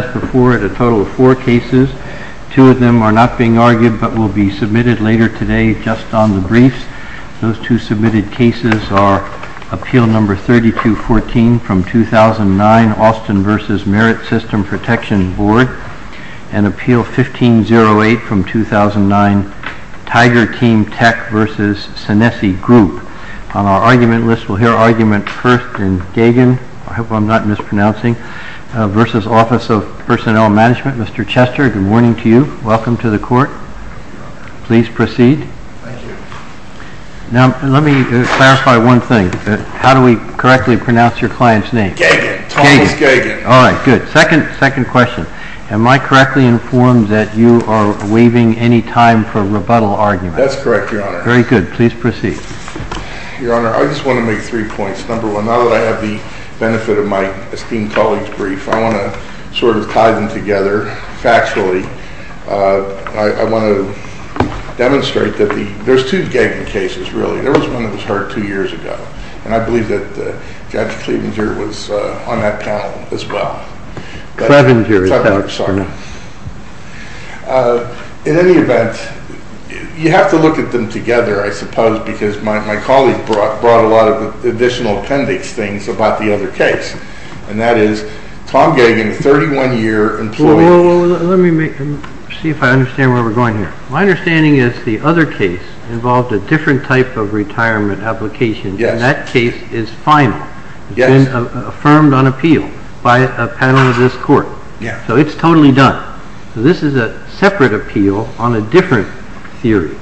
as before at a total of four cases. Two of them are not being argued but will be submitted later today just on the briefs. Those two submitted cases are Appeal No. 3214 from 2009, Austin v. Merit System Protection Board, and Appeal 1508 from 2009, Tiger Team Tech v. Senesi Group. On our argument list we'll hear argument first in Gaghan v. Office of Personnel Management. Mr. Chester, good morning to you. Welcome to the court. Please proceed. Now let me clarify one thing. How do we correctly pronounce your client's name? Gaghan, Thomas Gaghan. All right, good. Second question. Am I correctly informed that you are waiving any time for rebuttal argument? That's correct, Your Honor. Very good. Please proceed. Your Honor, I just want to make three points. Number one, now that I have the time to sort of tie them together factually, I want to demonstrate that there's two Gaghan cases, really. There was one that was heard two years ago, and I believe that Judge Cleavanger was on that panel as well. Cleavanger is correct, Your Honor. In any event, you have to look at them together, I suppose, because my colleague brought a lot additional appendix things about the other case, and that is Tom Gaghan, a 31-year employee. Well, let me see if I understand where we're going here. My understanding is the other case involved a different type of retirement application. Yes. And that case is final. Yes. It's been affirmed on appeal by a panel of this court. Yeah. So it's totally done. So this is a separate appeal on a different theory.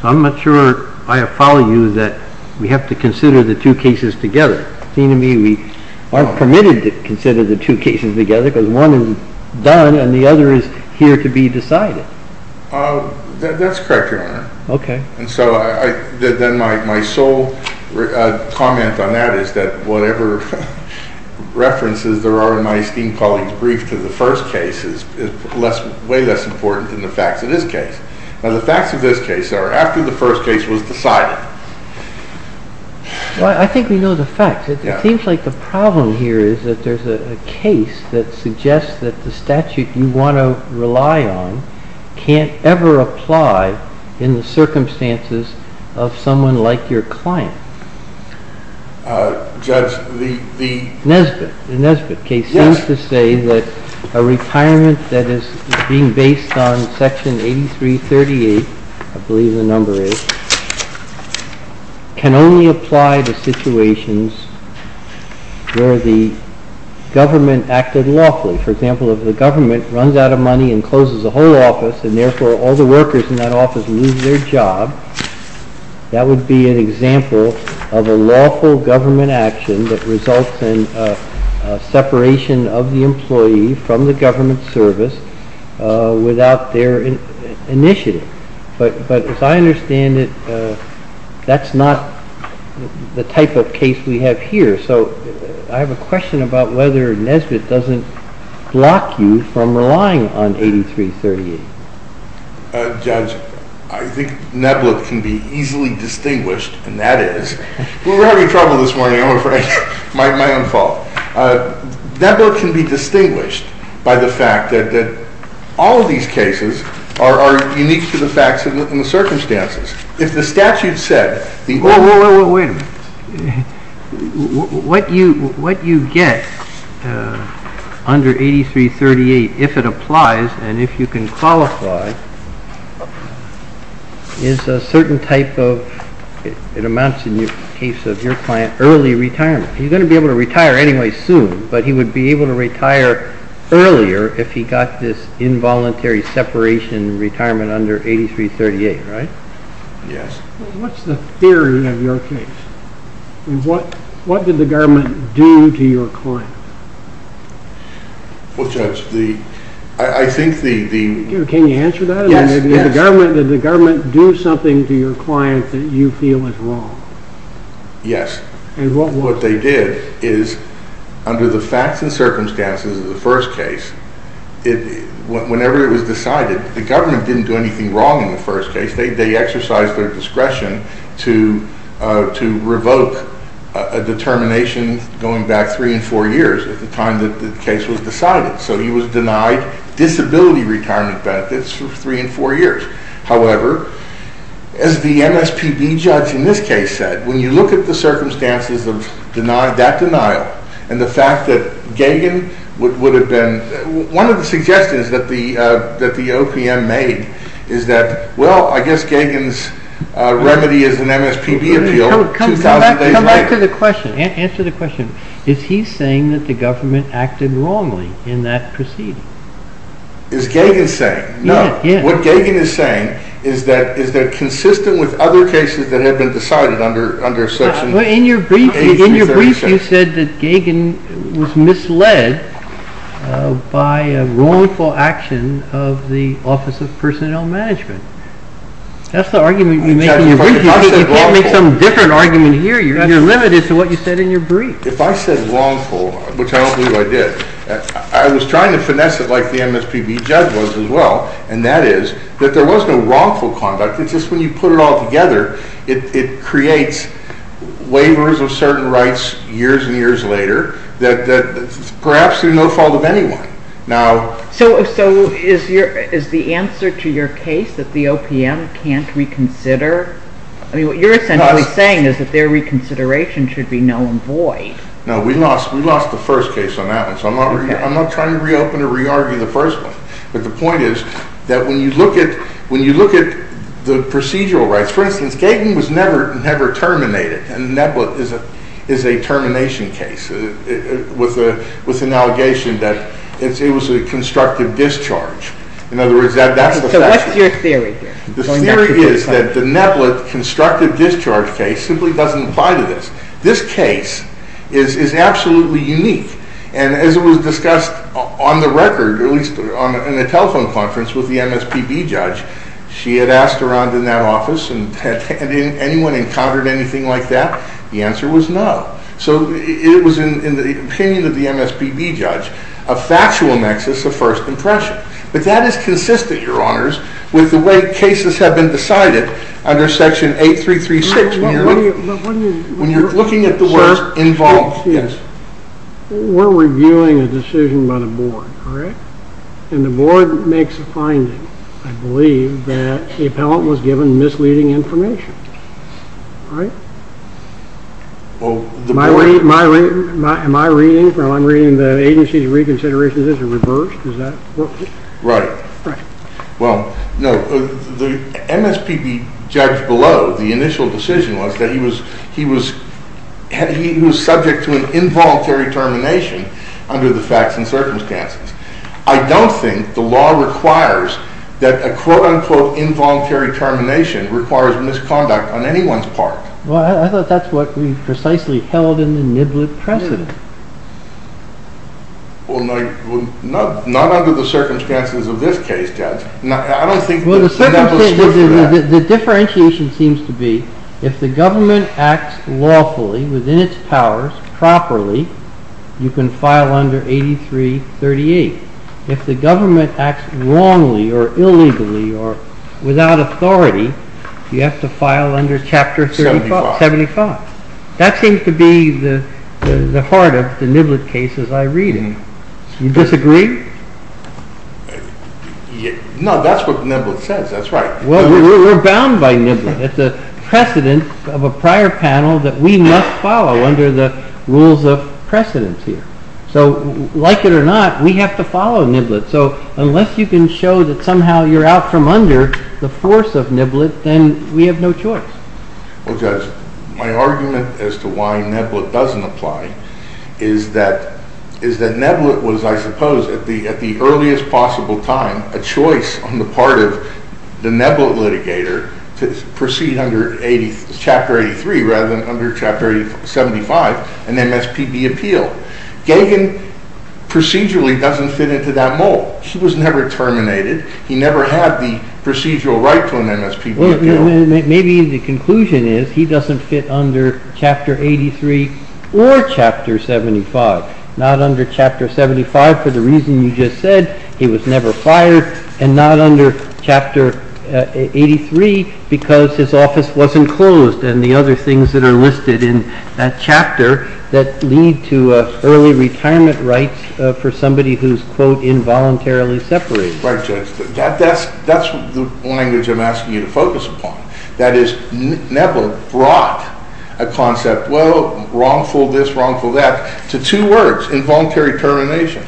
So I'm not sure I follow you that we have to consider the two cases together. See, to me, we aren't permitted to consider the two cases together because one is done, and the other is here to be decided. That's correct, Your Honor. Okay. And so then my sole comment on that is that whatever references there are in my esteemed colleague's brief to the first case is way less important than the facts of this case. Now, the facts of this case are after the first case was decided. Well, I think we know the facts. It seems like the problem here is that there's a case that suggests that the statute you want to rely on can't ever apply in the circumstances of someone like your client. Judge, the— Nesbitt. The Nesbitt case seems to say that a retirement that is being based on Section 8338, I believe the number is, can only apply to situations where the government acted lawfully. For example, if the government runs out of money and closes a whole office, and therefore all the workers in that office lose their job, that would be an example of a lawful government action that results in a separation of the employee from the government service without their initiative. But as I understand it, that's not the type of case we have here. So I have a question about whether Nesbitt doesn't block you from relying on 8338. Judge, I think Neblet can be easily distinguished, and that is—we were having trouble this morning, I'm afraid, my own fault. Neblet can be distinguished by the fact that all of these cases are unique to the facts and the circumstances. If the statute said— Wait a minute. What you get under 8338, if it applies and if you can qualify, is a certain type of—it amounts, in the case of your client, early retirement. He's going to be able to retire anyway soon, but he would be able to retire earlier if he got this involuntary separation in retirement under 8338, right? Yes. What's the theory of your case? What did the government do to your client? Well, Judge, I think the— Can you answer that? Yes, yes. Did the government do something to your client that you feel is wrong? Yes. And what was it? Is under the facts and circumstances of the first case, whenever it was decided, the government didn't do anything wrong in the first case. They exercised their discretion to revoke a determination going back three and four years at the time that the case was decided. So he was denied disability retirement benefits for three and four years. However, as the MSPB judge in this case said, when you look at the circumstances of that denial and the fact that Gagin would have been—one of the suggestions that the OPM made is that, well, I guess Gagin's remedy is an MSPB appeal 2,000 days later. Come back to the question. Answer the question. Is he saying that the government acted wrongly in that proceeding? Is Gagin saying? No. What Gagin is saying is that consistent with other cases that have been decided under section— But in your brief, you said that Gagin was misled by a wrongful action of the Office of Personnel Management. That's the argument you make in your brief. You can't make some different argument here. You're limited to what you said in your brief. If I said wrongful, which I don't believe I did, I was trying to finesse it like the that there was no wrongful conduct. It's just when you put it all together, it creates waivers of certain rights years and years later that perhaps are no fault of anyone. So is the answer to your case that the OPM can't reconsider—I mean, what you're essentially saying is that their reconsideration should be null and void. No, we lost the first case on that, so I'm not trying to reopen or re-argue the first one, but the point is that when you look at the procedural rights—for instance, Gagin was never terminated, and the NEPLIT is a termination case with an allegation that it was a constructive discharge. In other words, that's the statute. So what's your theory here? The theory is that the NEPLIT constructive discharge case simply doesn't apply to this. This case is absolutely unique. And as it was discussed on the record, at least in a telephone conference with the MSPB judge, she had asked around in that office, and anyone encountered anything like that? The answer was no. So it was in the opinion of the MSPB judge, a factual nexus of first impression. But that is consistent, Your Honors, with the way cases have been decided under Section 8336 when you're looking at the words involved. We're reviewing a decision by the board, all right? And the board makes a finding, I believe, that the appellant was given misleading information. Am I reading—I'm reading that the agency's reconsideration is reversed? Is that what—? Right. Well, no. The MSPB judge below, the initial decision was that he was subject to an involuntary termination under the facts and circumstances. I don't think the law requires that a quote-unquote involuntary termination requires misconduct on anyone's part. Well, I thought that's what we precisely held in the NEPLIT precedent. Well, not under the circumstances of this case, Judge. I don't think— Well, the circumstances—the differentiation seems to be if the government acts lawfully within its powers properly, you can file under 8338. If the government acts wrongly or illegally or without authority, you have to file under Chapter 75. That seems to be the heart of the NEPLIT cases I read in. You disagree? No, that's what NEPLIT says. That's right. Well, we're bound by NEPLIT. It's a precedent of a prior panel that we must follow under the rules of precedence here. So, like it or not, we have to follow NEPLIT. So, unless you can show that somehow you're out from under the force of NEPLIT, then we have no choice. Well, Judge, my argument as to why NEPLIT doesn't apply is that NEPLIT was, I suppose, at the earliest possible time, a choice on the part of the NEPLIT litigator to proceed under Chapter 83 rather than under Chapter 75, an MSPB appeal. Gagin procedurally doesn't fit into that mold. He was never terminated. He never had the procedural right to an MSPB appeal. Maybe the conclusion is he doesn't fit under Chapter 83 or Chapter 75. Not under Chapter 75 for the reason you just said, he was never fired, and not under Chapter 83 because his office wasn't closed and the other things that are listed in that chapter that lead to early retirement rights for somebody who's, quote, involuntarily separated. Right, Judge. That's the language I'm asking you to focus upon. That is, NEPLIT brought a concept, well, wrongful this, wrongful that, to two words, involuntary termination.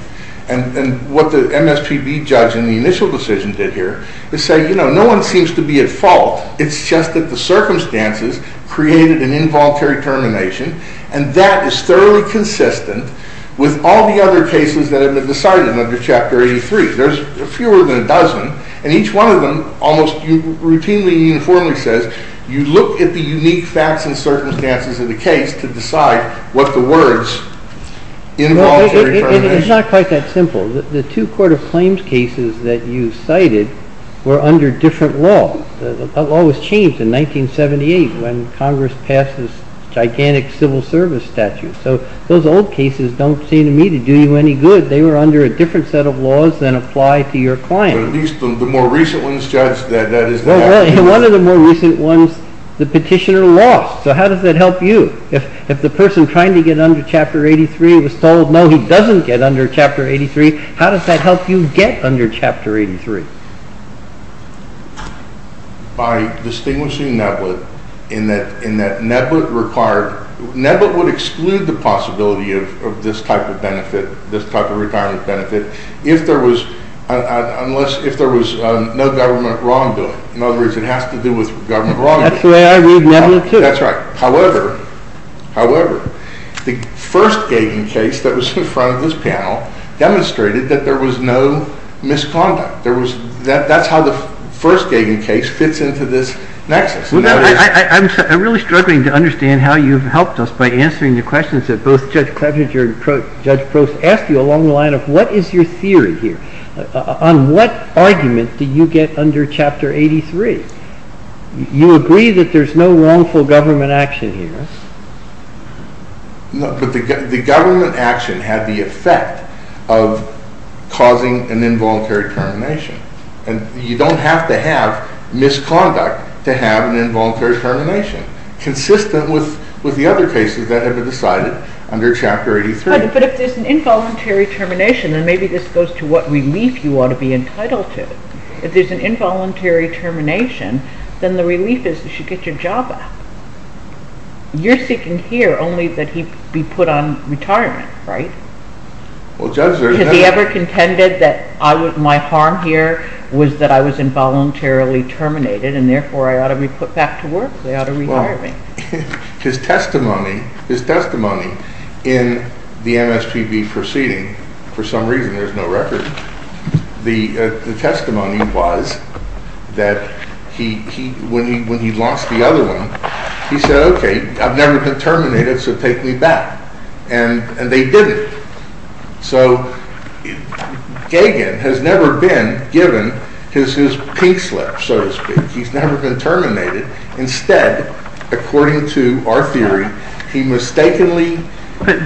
And what the MSPB judge in the initial decision did here is say, you know, no one seems to be at fault. It's just that the circumstances created an involuntary termination, and that is thoroughly consistent with all the other cases that have been decided under Chapter 83. There's fewer than a dozen, and each one of them almost routinely and uniformly says, you look at the unique facts and circumstances of the case to decide what the words involuntary termination. It's not quite that simple. The two court of claims cases that you cited were under different law. The law was changed in 1978 when Congress passed this gigantic civil service statute. So those old cases don't seem to me to do you any good. They were under a different set of laws than apply to your client. At least the more recent ones, Judge, that is the case. One of the more recent ones, the petitioner lost. So how does that help you? If the person trying to get under Chapter 83 was told, no, he doesn't get under Chapter 83, how does that help you get under Chapter 83? By distinguishing NEPLIT in that NEPLIT required, NEPLIT would exclude the possibility of this type of retirement benefit if there was no government wrongdoing. In other words, it has to do with government wrongdoing. That's the way I read NEPLIT, too. That's right. However, the first Gagin case that was in front of this panel demonstrated that there was no misconduct. That's how the first Gagin case fits into this nexus. I'm really struggling to understand how you've helped us by answering the questions that both Judge Clevenger and Judge Prost asked you along the line of what is your theory here? On what argument do you get under Chapter 83? You agree that there's no wrongful government action here. No, but the government action had the effect of causing an involuntary termination. And you don't have to have misconduct to have an involuntary termination, consistent with the other cases that have been decided under Chapter 83. But if there's an involuntary termination, then maybe this goes to what relief you ought to be entitled to. If there's an involuntary termination, then the relief is you should get your job back. You're seeking here only that he be put on retirement, right? Well, Judge, there's no— Has he ever contended that my harm here was that I was involuntarily terminated and therefore I ought to be put back to work? They ought to retire me. His testimony in the MSPB proceeding, for some reason there's no record, the testimony was that when he lost the other one, he said, okay, I've never been terminated, so take me back. And they didn't. So Gagin has never been given his pink slip, so to speak. He's never been terminated. Instead, according to our theory, he mistakenly— But,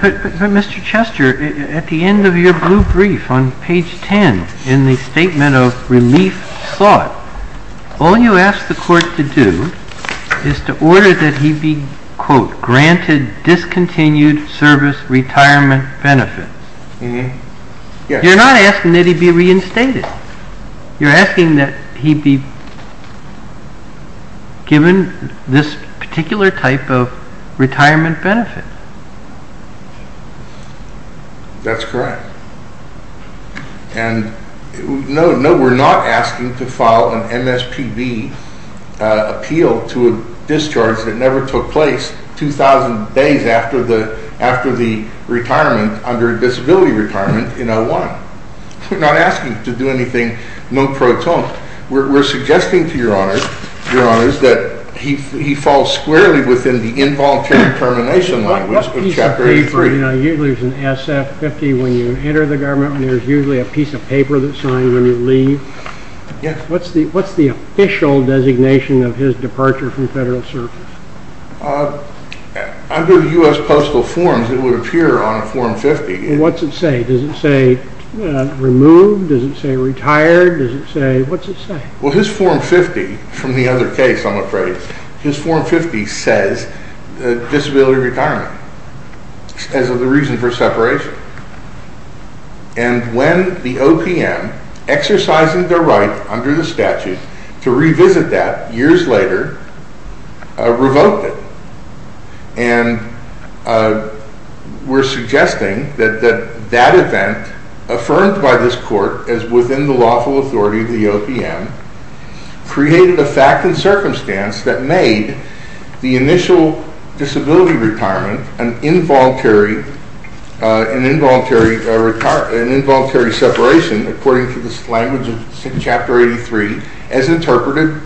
Mr. Chester, at the end of your blue brief on page 10 in the statement of relief sought, all you asked the court to do is to order that he be, quote, granted discontinued service retirement benefits. You're not asking that he be reinstated. You're asking that he be given this particular type of retirement benefit. That's correct. And no, we're not asking to file an MSPB appeal to a discharge that never took place 2,000 days after the retirement, under disability retirement in 01. We're not asking to do anything non-proton. We're suggesting to your honors that he fall squarely within the involuntary termination language of Chapter 83. What piece of paper—usually there's an SF-50 when you enter the government, and there's usually a piece of paper that's signed when you leave—what's the official designation of his departure from federal service? Under U.S. Postal Forms, it would appear on a Form 50. What's it say? Does it say removed? Does it say retired? Does it say—what's it say? Well, his Form 50—from the other case, I'm afraid—his Form 50 says disability retirement as the reason for separation. And when the OPM, exercising their right under the statute to revisit that years later, revoked it, and we're suggesting that that event, affirmed by this court as within the lawful authority of the OPM, created a fact and circumstance that made the initial disability retirement an involuntary separation, according to the language of Chapter 83, as interpreted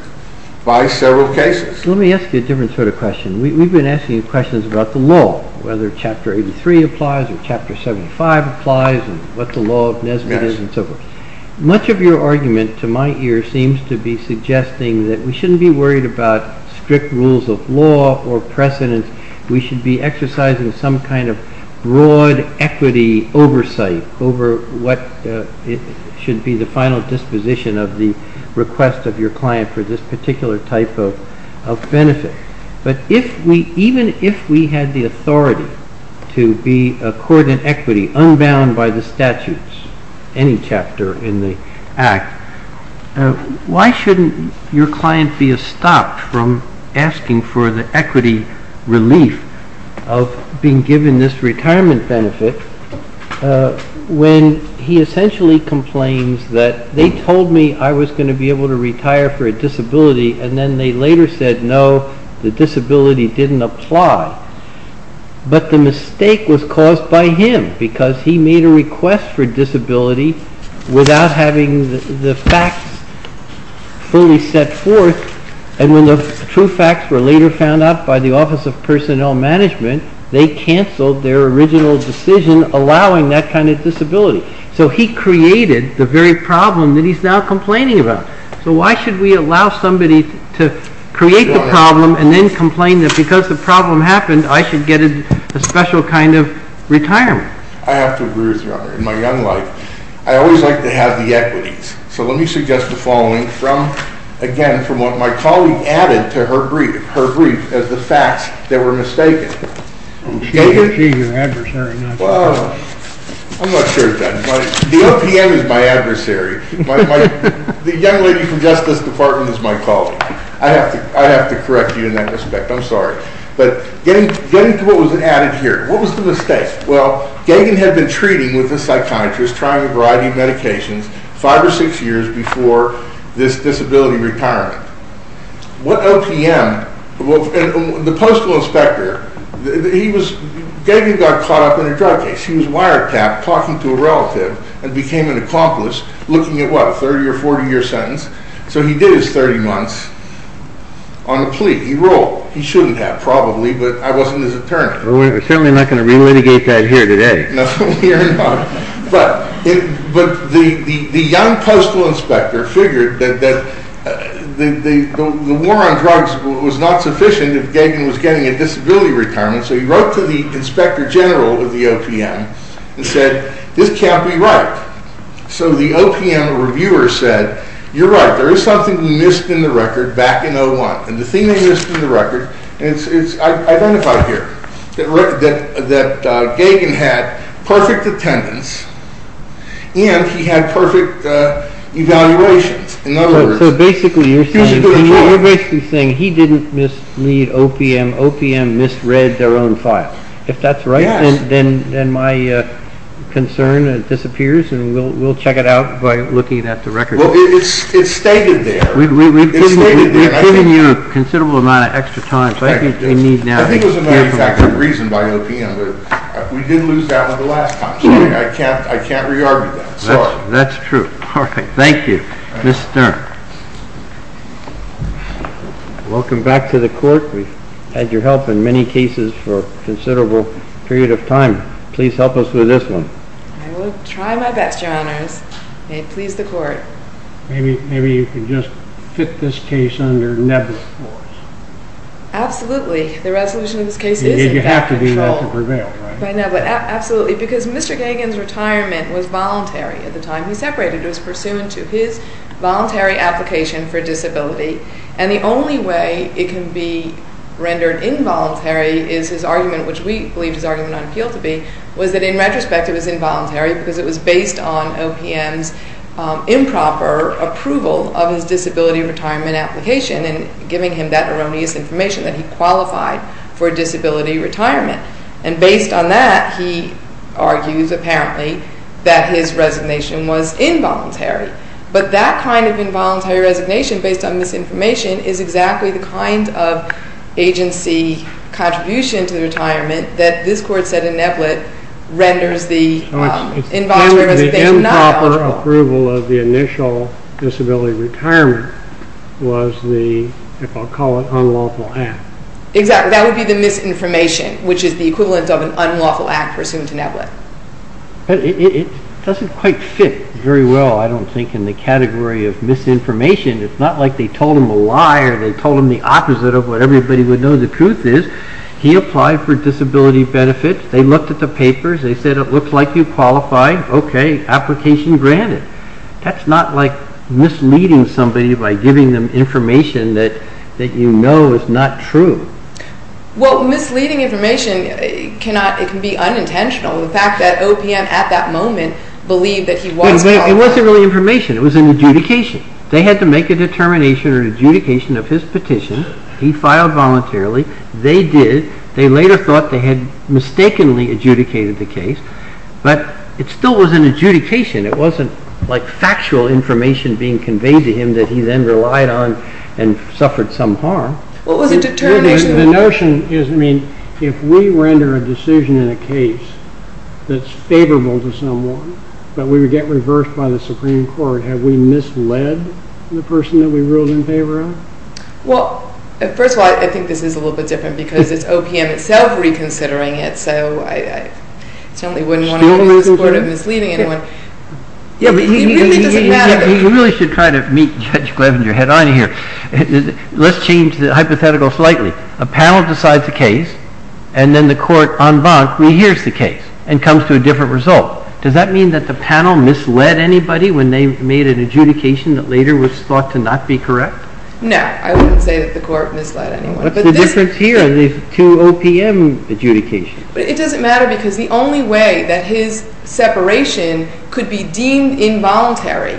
by several cases. Let me ask you a different sort of question. We've been asking questions about the law, whether Chapter 83 applies or Chapter 75 applies, and what the law of Nesbitt is and so forth. Much of your argument, to my ear, seems to be suggesting that we shouldn't be worried about strict rules of law or precedents. We should be exercising some kind of broad equity oversight over what should be the benefit. But even if we had the authority to be a court in equity, unbound by the statutes, any chapter in the Act, why shouldn't your client be stopped from asking for the equity relief of being given this retirement benefit when he essentially complains that, they told me I was going to be able to retire for a disability, and then they later said no, the disability didn't apply. But the mistake was caused by him, because he made a request for disability without having the facts fully set forth, and when the true facts were later found out by the Office of Personnel Management, they cancelled their original decision allowing that kind of disability. So he created the very problem that he's now complaining about. So why should we allow somebody to create the problem and then complain that because the problem happened, I should get a special kind of retirement? I have to agree with you on that. In my young life, I always like to have the equities. So let me suggest the following from, again, from what my colleague added to her brief as the facts that were mistaken. She's your adversary. Well, I'm not sure if that's my, the OPM is my adversary. The young lady from Justice Department is my colleague. I have to correct you in that respect. I'm sorry. But getting to what was added here, what was the mistake? Well, Gagan had been treating with a psychiatrist, trying a variety of medications, five or six years before this disability retirement. What OPM, the postal inspector, he was, Gagan got caught up in a drug case. He was wiretapped talking to a relative and became an accomplice looking at what, a 30 or 40 year sentence. So he did his 30 months on a plea. He ruled. He shouldn't have probably, but I wasn't his attorney. Well, we're certainly not going to re-litigate that here today. But the young postal inspector figured that the war on drugs was not sufficient if Gagan was getting a disability retirement. So he wrote to the inspector general of the OPM and said, this can't be right. So the OPM reviewer said, you're right. There is something we missed in the record back in 01. And the thing they missed in the record, it's identified here, that Gagan had perfect attendance and he had perfect evaluations. So basically you're saying he didn't mislead OPM. OPM misread their own file. If that's right, then my concern disappears and we'll check it out by looking at the record. Well, it's stated there. We've given you a considerable amount of extra time. I think it was a non-exact reason by OPM, but we did lose that one the last time. So I can't re-argue that. Sorry. That's true. All right. Thank you. Ms. Stern. Welcome back to the court. We've had your help in many cases for a considerable period of time. I will try my best, your honors. May it please the court. Maybe you can just fit this case under Neville's force. Absolutely. The resolution of this case is in Neville's control. You have to do that to prevail, right? By Neville. Absolutely. Because Mr. Gagan's retirement was voluntary at the time he separated. It was pursuant to his voluntary application for disability. And the only way it can be rendered involuntary is his argument, which we believed his argument on appeal to be, was that in retrospect it was involuntary because it was based on OPM's improper approval of his disability retirement application and giving him that erroneous information that he qualified for a disability retirement. And based on that, he argues apparently that his resignation was involuntary. But that kind of involuntary resignation based on misinformation is exactly the kind of agency contribution to the retirement that this court said in Neblett renders the involuntary resignation not voluntary. The improper approval of the initial disability retirement was the, if I'll call it, unlawful act. Exactly. That would be the misinformation, which is the equivalent of an unlawful act pursuant to Neblett. It doesn't quite fit very well, I don't think, in the category of misinformation. It's not like they told him a lie or they told him the opposite of what everybody would know the truth is. He applied for disability benefits. They looked at the papers. They said it looked like you qualified. Okay, application granted. That's not like misleading somebody by giving them information that you know is not true. Well, misleading information, it can be unintentional. The fact that OPM at that moment believed that he was qualified. It wasn't really information. It was an adjudication. They had to make a determination or adjudication of his petition. He filed voluntarily. They did. They later thought they had mistakenly adjudicated the case. But it still was an adjudication. It wasn't like factual information being conveyed to him that he then relied on and suffered some harm. What was the determination? The notion is, I mean, if we render a decision in a case that's favorable to someone but we would get reversed by the Supreme Court, have we misled the person that we ruled in favor of? Well, first of all, I think this is a little bit different because it's OPM itself reconsidering it. So I certainly wouldn't want to view this court of misleading anyone. He really doesn't matter. He really should try to meet Judge Gleisinger head on here. Let's change the hypothetical slightly. A panel decides a case and then the court en banc rehears the case and comes to a different result. Does that mean that the panel misled anybody when they made an adjudication that later was thought to not be correct? No. I wouldn't say that the court misled anyone. What's the difference here in these two OPM adjudications? It doesn't matter because the only way that his separation could be deemed involuntary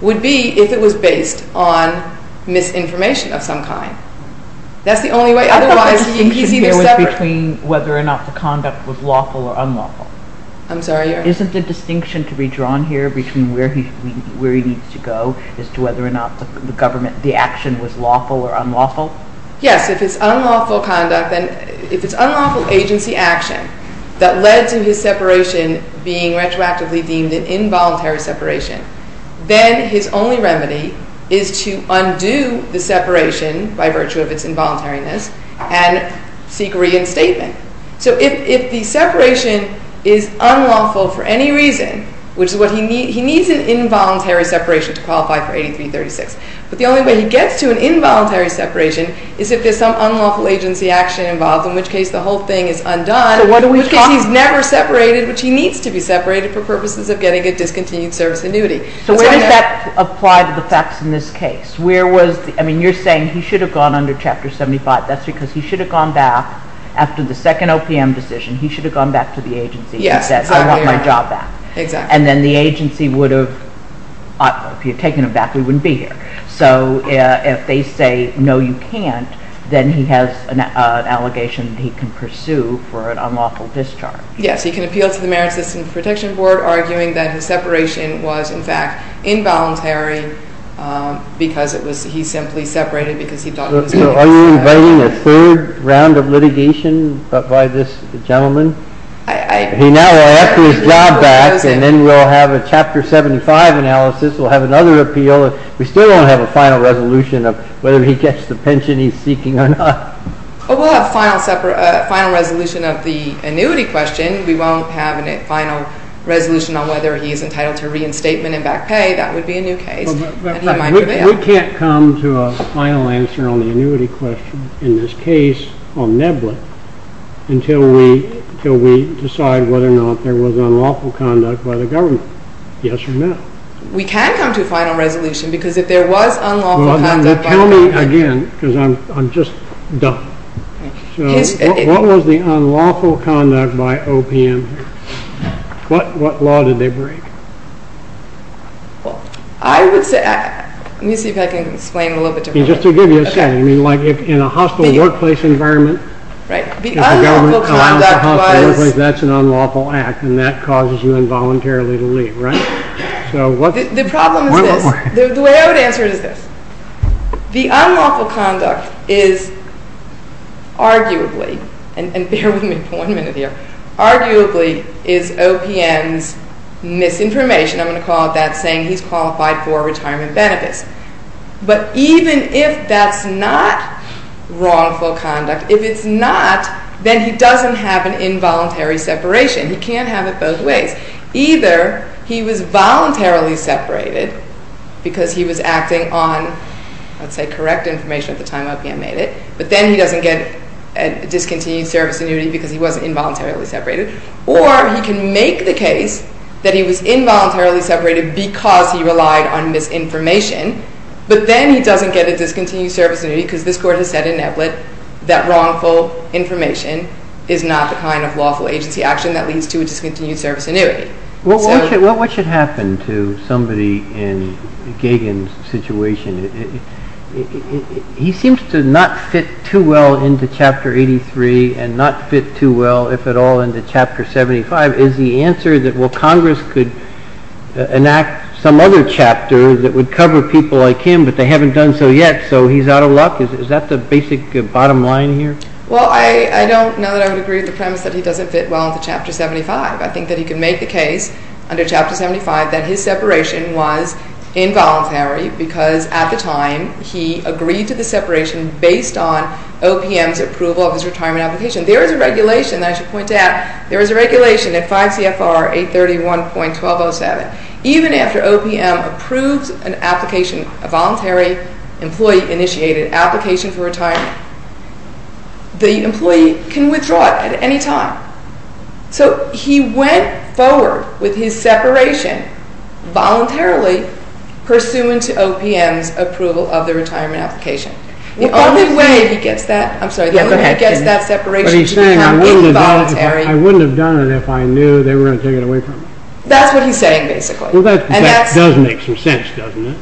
would be if it was based on misinformation of some kind. That's the only way. I thought the distinction here was between whether or not the conduct was lawful or unlawful. I'm sorry? Isn't the distinction to be drawn here between where he needs to go as to whether or not the government, the action was lawful or unlawful? Yes. If it's unlawful conduct and if it's unlawful agency action that led to his separation being retroactively deemed an involuntary separation, then his only remedy is to undo the separation by virtue of its involuntariness and seek reinstatement. So if the separation is unlawful for any reason, which is what he needs, he needs an involuntary separation to qualify for 8336. But the only way he gets to an involuntary separation is if there's some unlawful agency action involved, in which case the whole thing is undone because he's never separated, which he needs to be separated for purposes of getting a discontinued service annuity. So where does that apply to the facts in this case? You're saying he should have gone under Chapter 75. That's because he should have gone back after the second OPM decision. He should have gone back to the agency and said, I want my job back. Exactly. And then the agency would have, I don't know, if he had taken it back, we wouldn't be here. So if they say, no, you can't, then he has an allegation that he can pursue for an unlawful discharge. Yes. He can appeal to the Merit System Protection Board, arguing that his separation was, in fact, involuntary because he simply separated because he thought it was unlawful. So are you inviting a third round of litigation by this gentleman? He now will ask his job back, and then we'll have a Chapter 75 analysis. We'll have another appeal. We still don't have a final resolution of whether he gets the pension he's seeking or not. Oh, we'll have a final resolution of the annuity question. We won't have a final resolution on whether he is entitled to reinstatement and back pay. That would be a new case. But we can't come to a final answer on the annuity question in this case on Neblett until we decide whether or not there was unlawful conduct by the government. Yes or no? We can come to a final resolution. Because if there was unlawful conduct by the government... Tell me again, because I'm just dumb. What was the unlawful conduct by OPM? What law did they break? Well, I would say... Let me see if I can explain a little bit differently. Just to give you a sense. I mean, like in a hospital workplace environment... Right. The unlawful conduct was... That's an unlawful act, and that causes you involuntarily to leave, right? So what... The problem is this. The way I would answer it is this. The unlawful conduct is arguably, and bear with me for one minute here, arguably is OPM's misinformation. I'm going to call it that, saying he's qualified for retirement benefits. But even if that's not wrongful conduct, if it's not, then he doesn't have an involuntary separation. He can't have it both ways. Either he was voluntarily separated because he was acting on, let's say, correct information at the time OPM made it, but then he doesn't get a discontinued service annuity because he wasn't involuntarily separated. Or he can make the case that he was involuntarily separated because he relied on misinformation, but then he doesn't get a discontinued service annuity because this court has said in Eblett that wrongful information is not the kind of lawful agency action that leads to a discontinued service annuity. Well, what should happen to somebody in Gagin's situation? He seems to not fit too well into Chapter 83 and not fit too well, if at all, into Chapter 75. Is the answer that, well, Congress could enact some other chapter that would cover people like him, but they haven't done so yet, so he's out of luck? Is that the basic bottom line here? Well, I don't know that I would agree with the premise that he doesn't fit well into Chapter 75. I think that he could make the case under Chapter 75 that his separation was involuntary because at the time he agreed to the separation based on OPM's approval of his retirement application. There is a regulation that I should point out. There is a regulation at 5 CFR 831.1207. Even after OPM approves an application, a voluntary employee-initiated application for retirement, the employee can withdraw it at any time. So he went forward with his separation voluntarily pursuant to OPM's approval of the retirement application. The only way he gets that separation to become involuntary... But he's saying, I wouldn't have done it if I knew they were going to take it away from me. That's what he's saying, basically. Well, that does make some sense, doesn't it?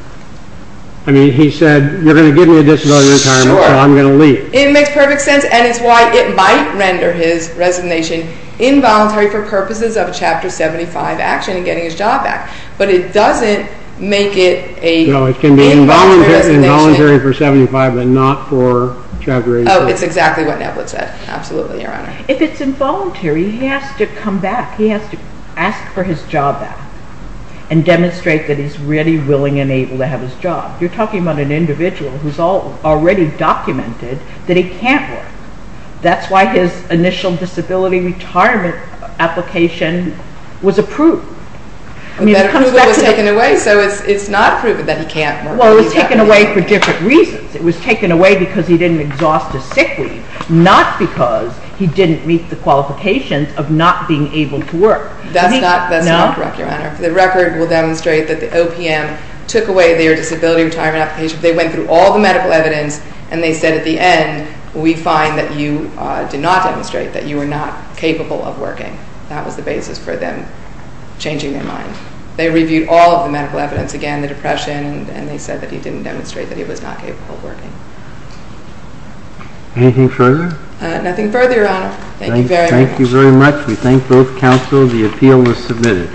I mean, he said, you're going to give me a disability retirement, so I'm going to leave. It makes perfect sense. And it's why it might render his resignation involuntary for purposes of a Chapter 75 action and getting his job back. But it doesn't make it a... No, it can be involuntary for 75, but not for Chapter 86. Oh, it's exactly what Neblitt said. Absolutely, Your Honor. If it's involuntary, he has to come back. He has to ask for his job back and demonstrate that he's really willing and able to have his job. You're talking about an individual who's already documented that he can't work. That's why his initial disability retirement application was approved. But that approval was taken away, so it's not proven that he can't work. Well, it was taken away for different reasons. It was taken away because he didn't exhaust a sick leave, not because he didn't meet the qualifications of not being able to work. That's not correct, Your Honor. The record will demonstrate that the OPM took away their disability retirement application. They went through all the medical evidence, and they said at the end, we find that you did not demonstrate that you were not capable of working. That was the basis for them changing their mind. They reviewed all of the medical evidence again, the depression, and they said that he didn't demonstrate that he was not capable of working. Anything further? Nothing further, Your Honor. Thank you very much. Thank you very much. We thank both counsel. The appeal was submitted.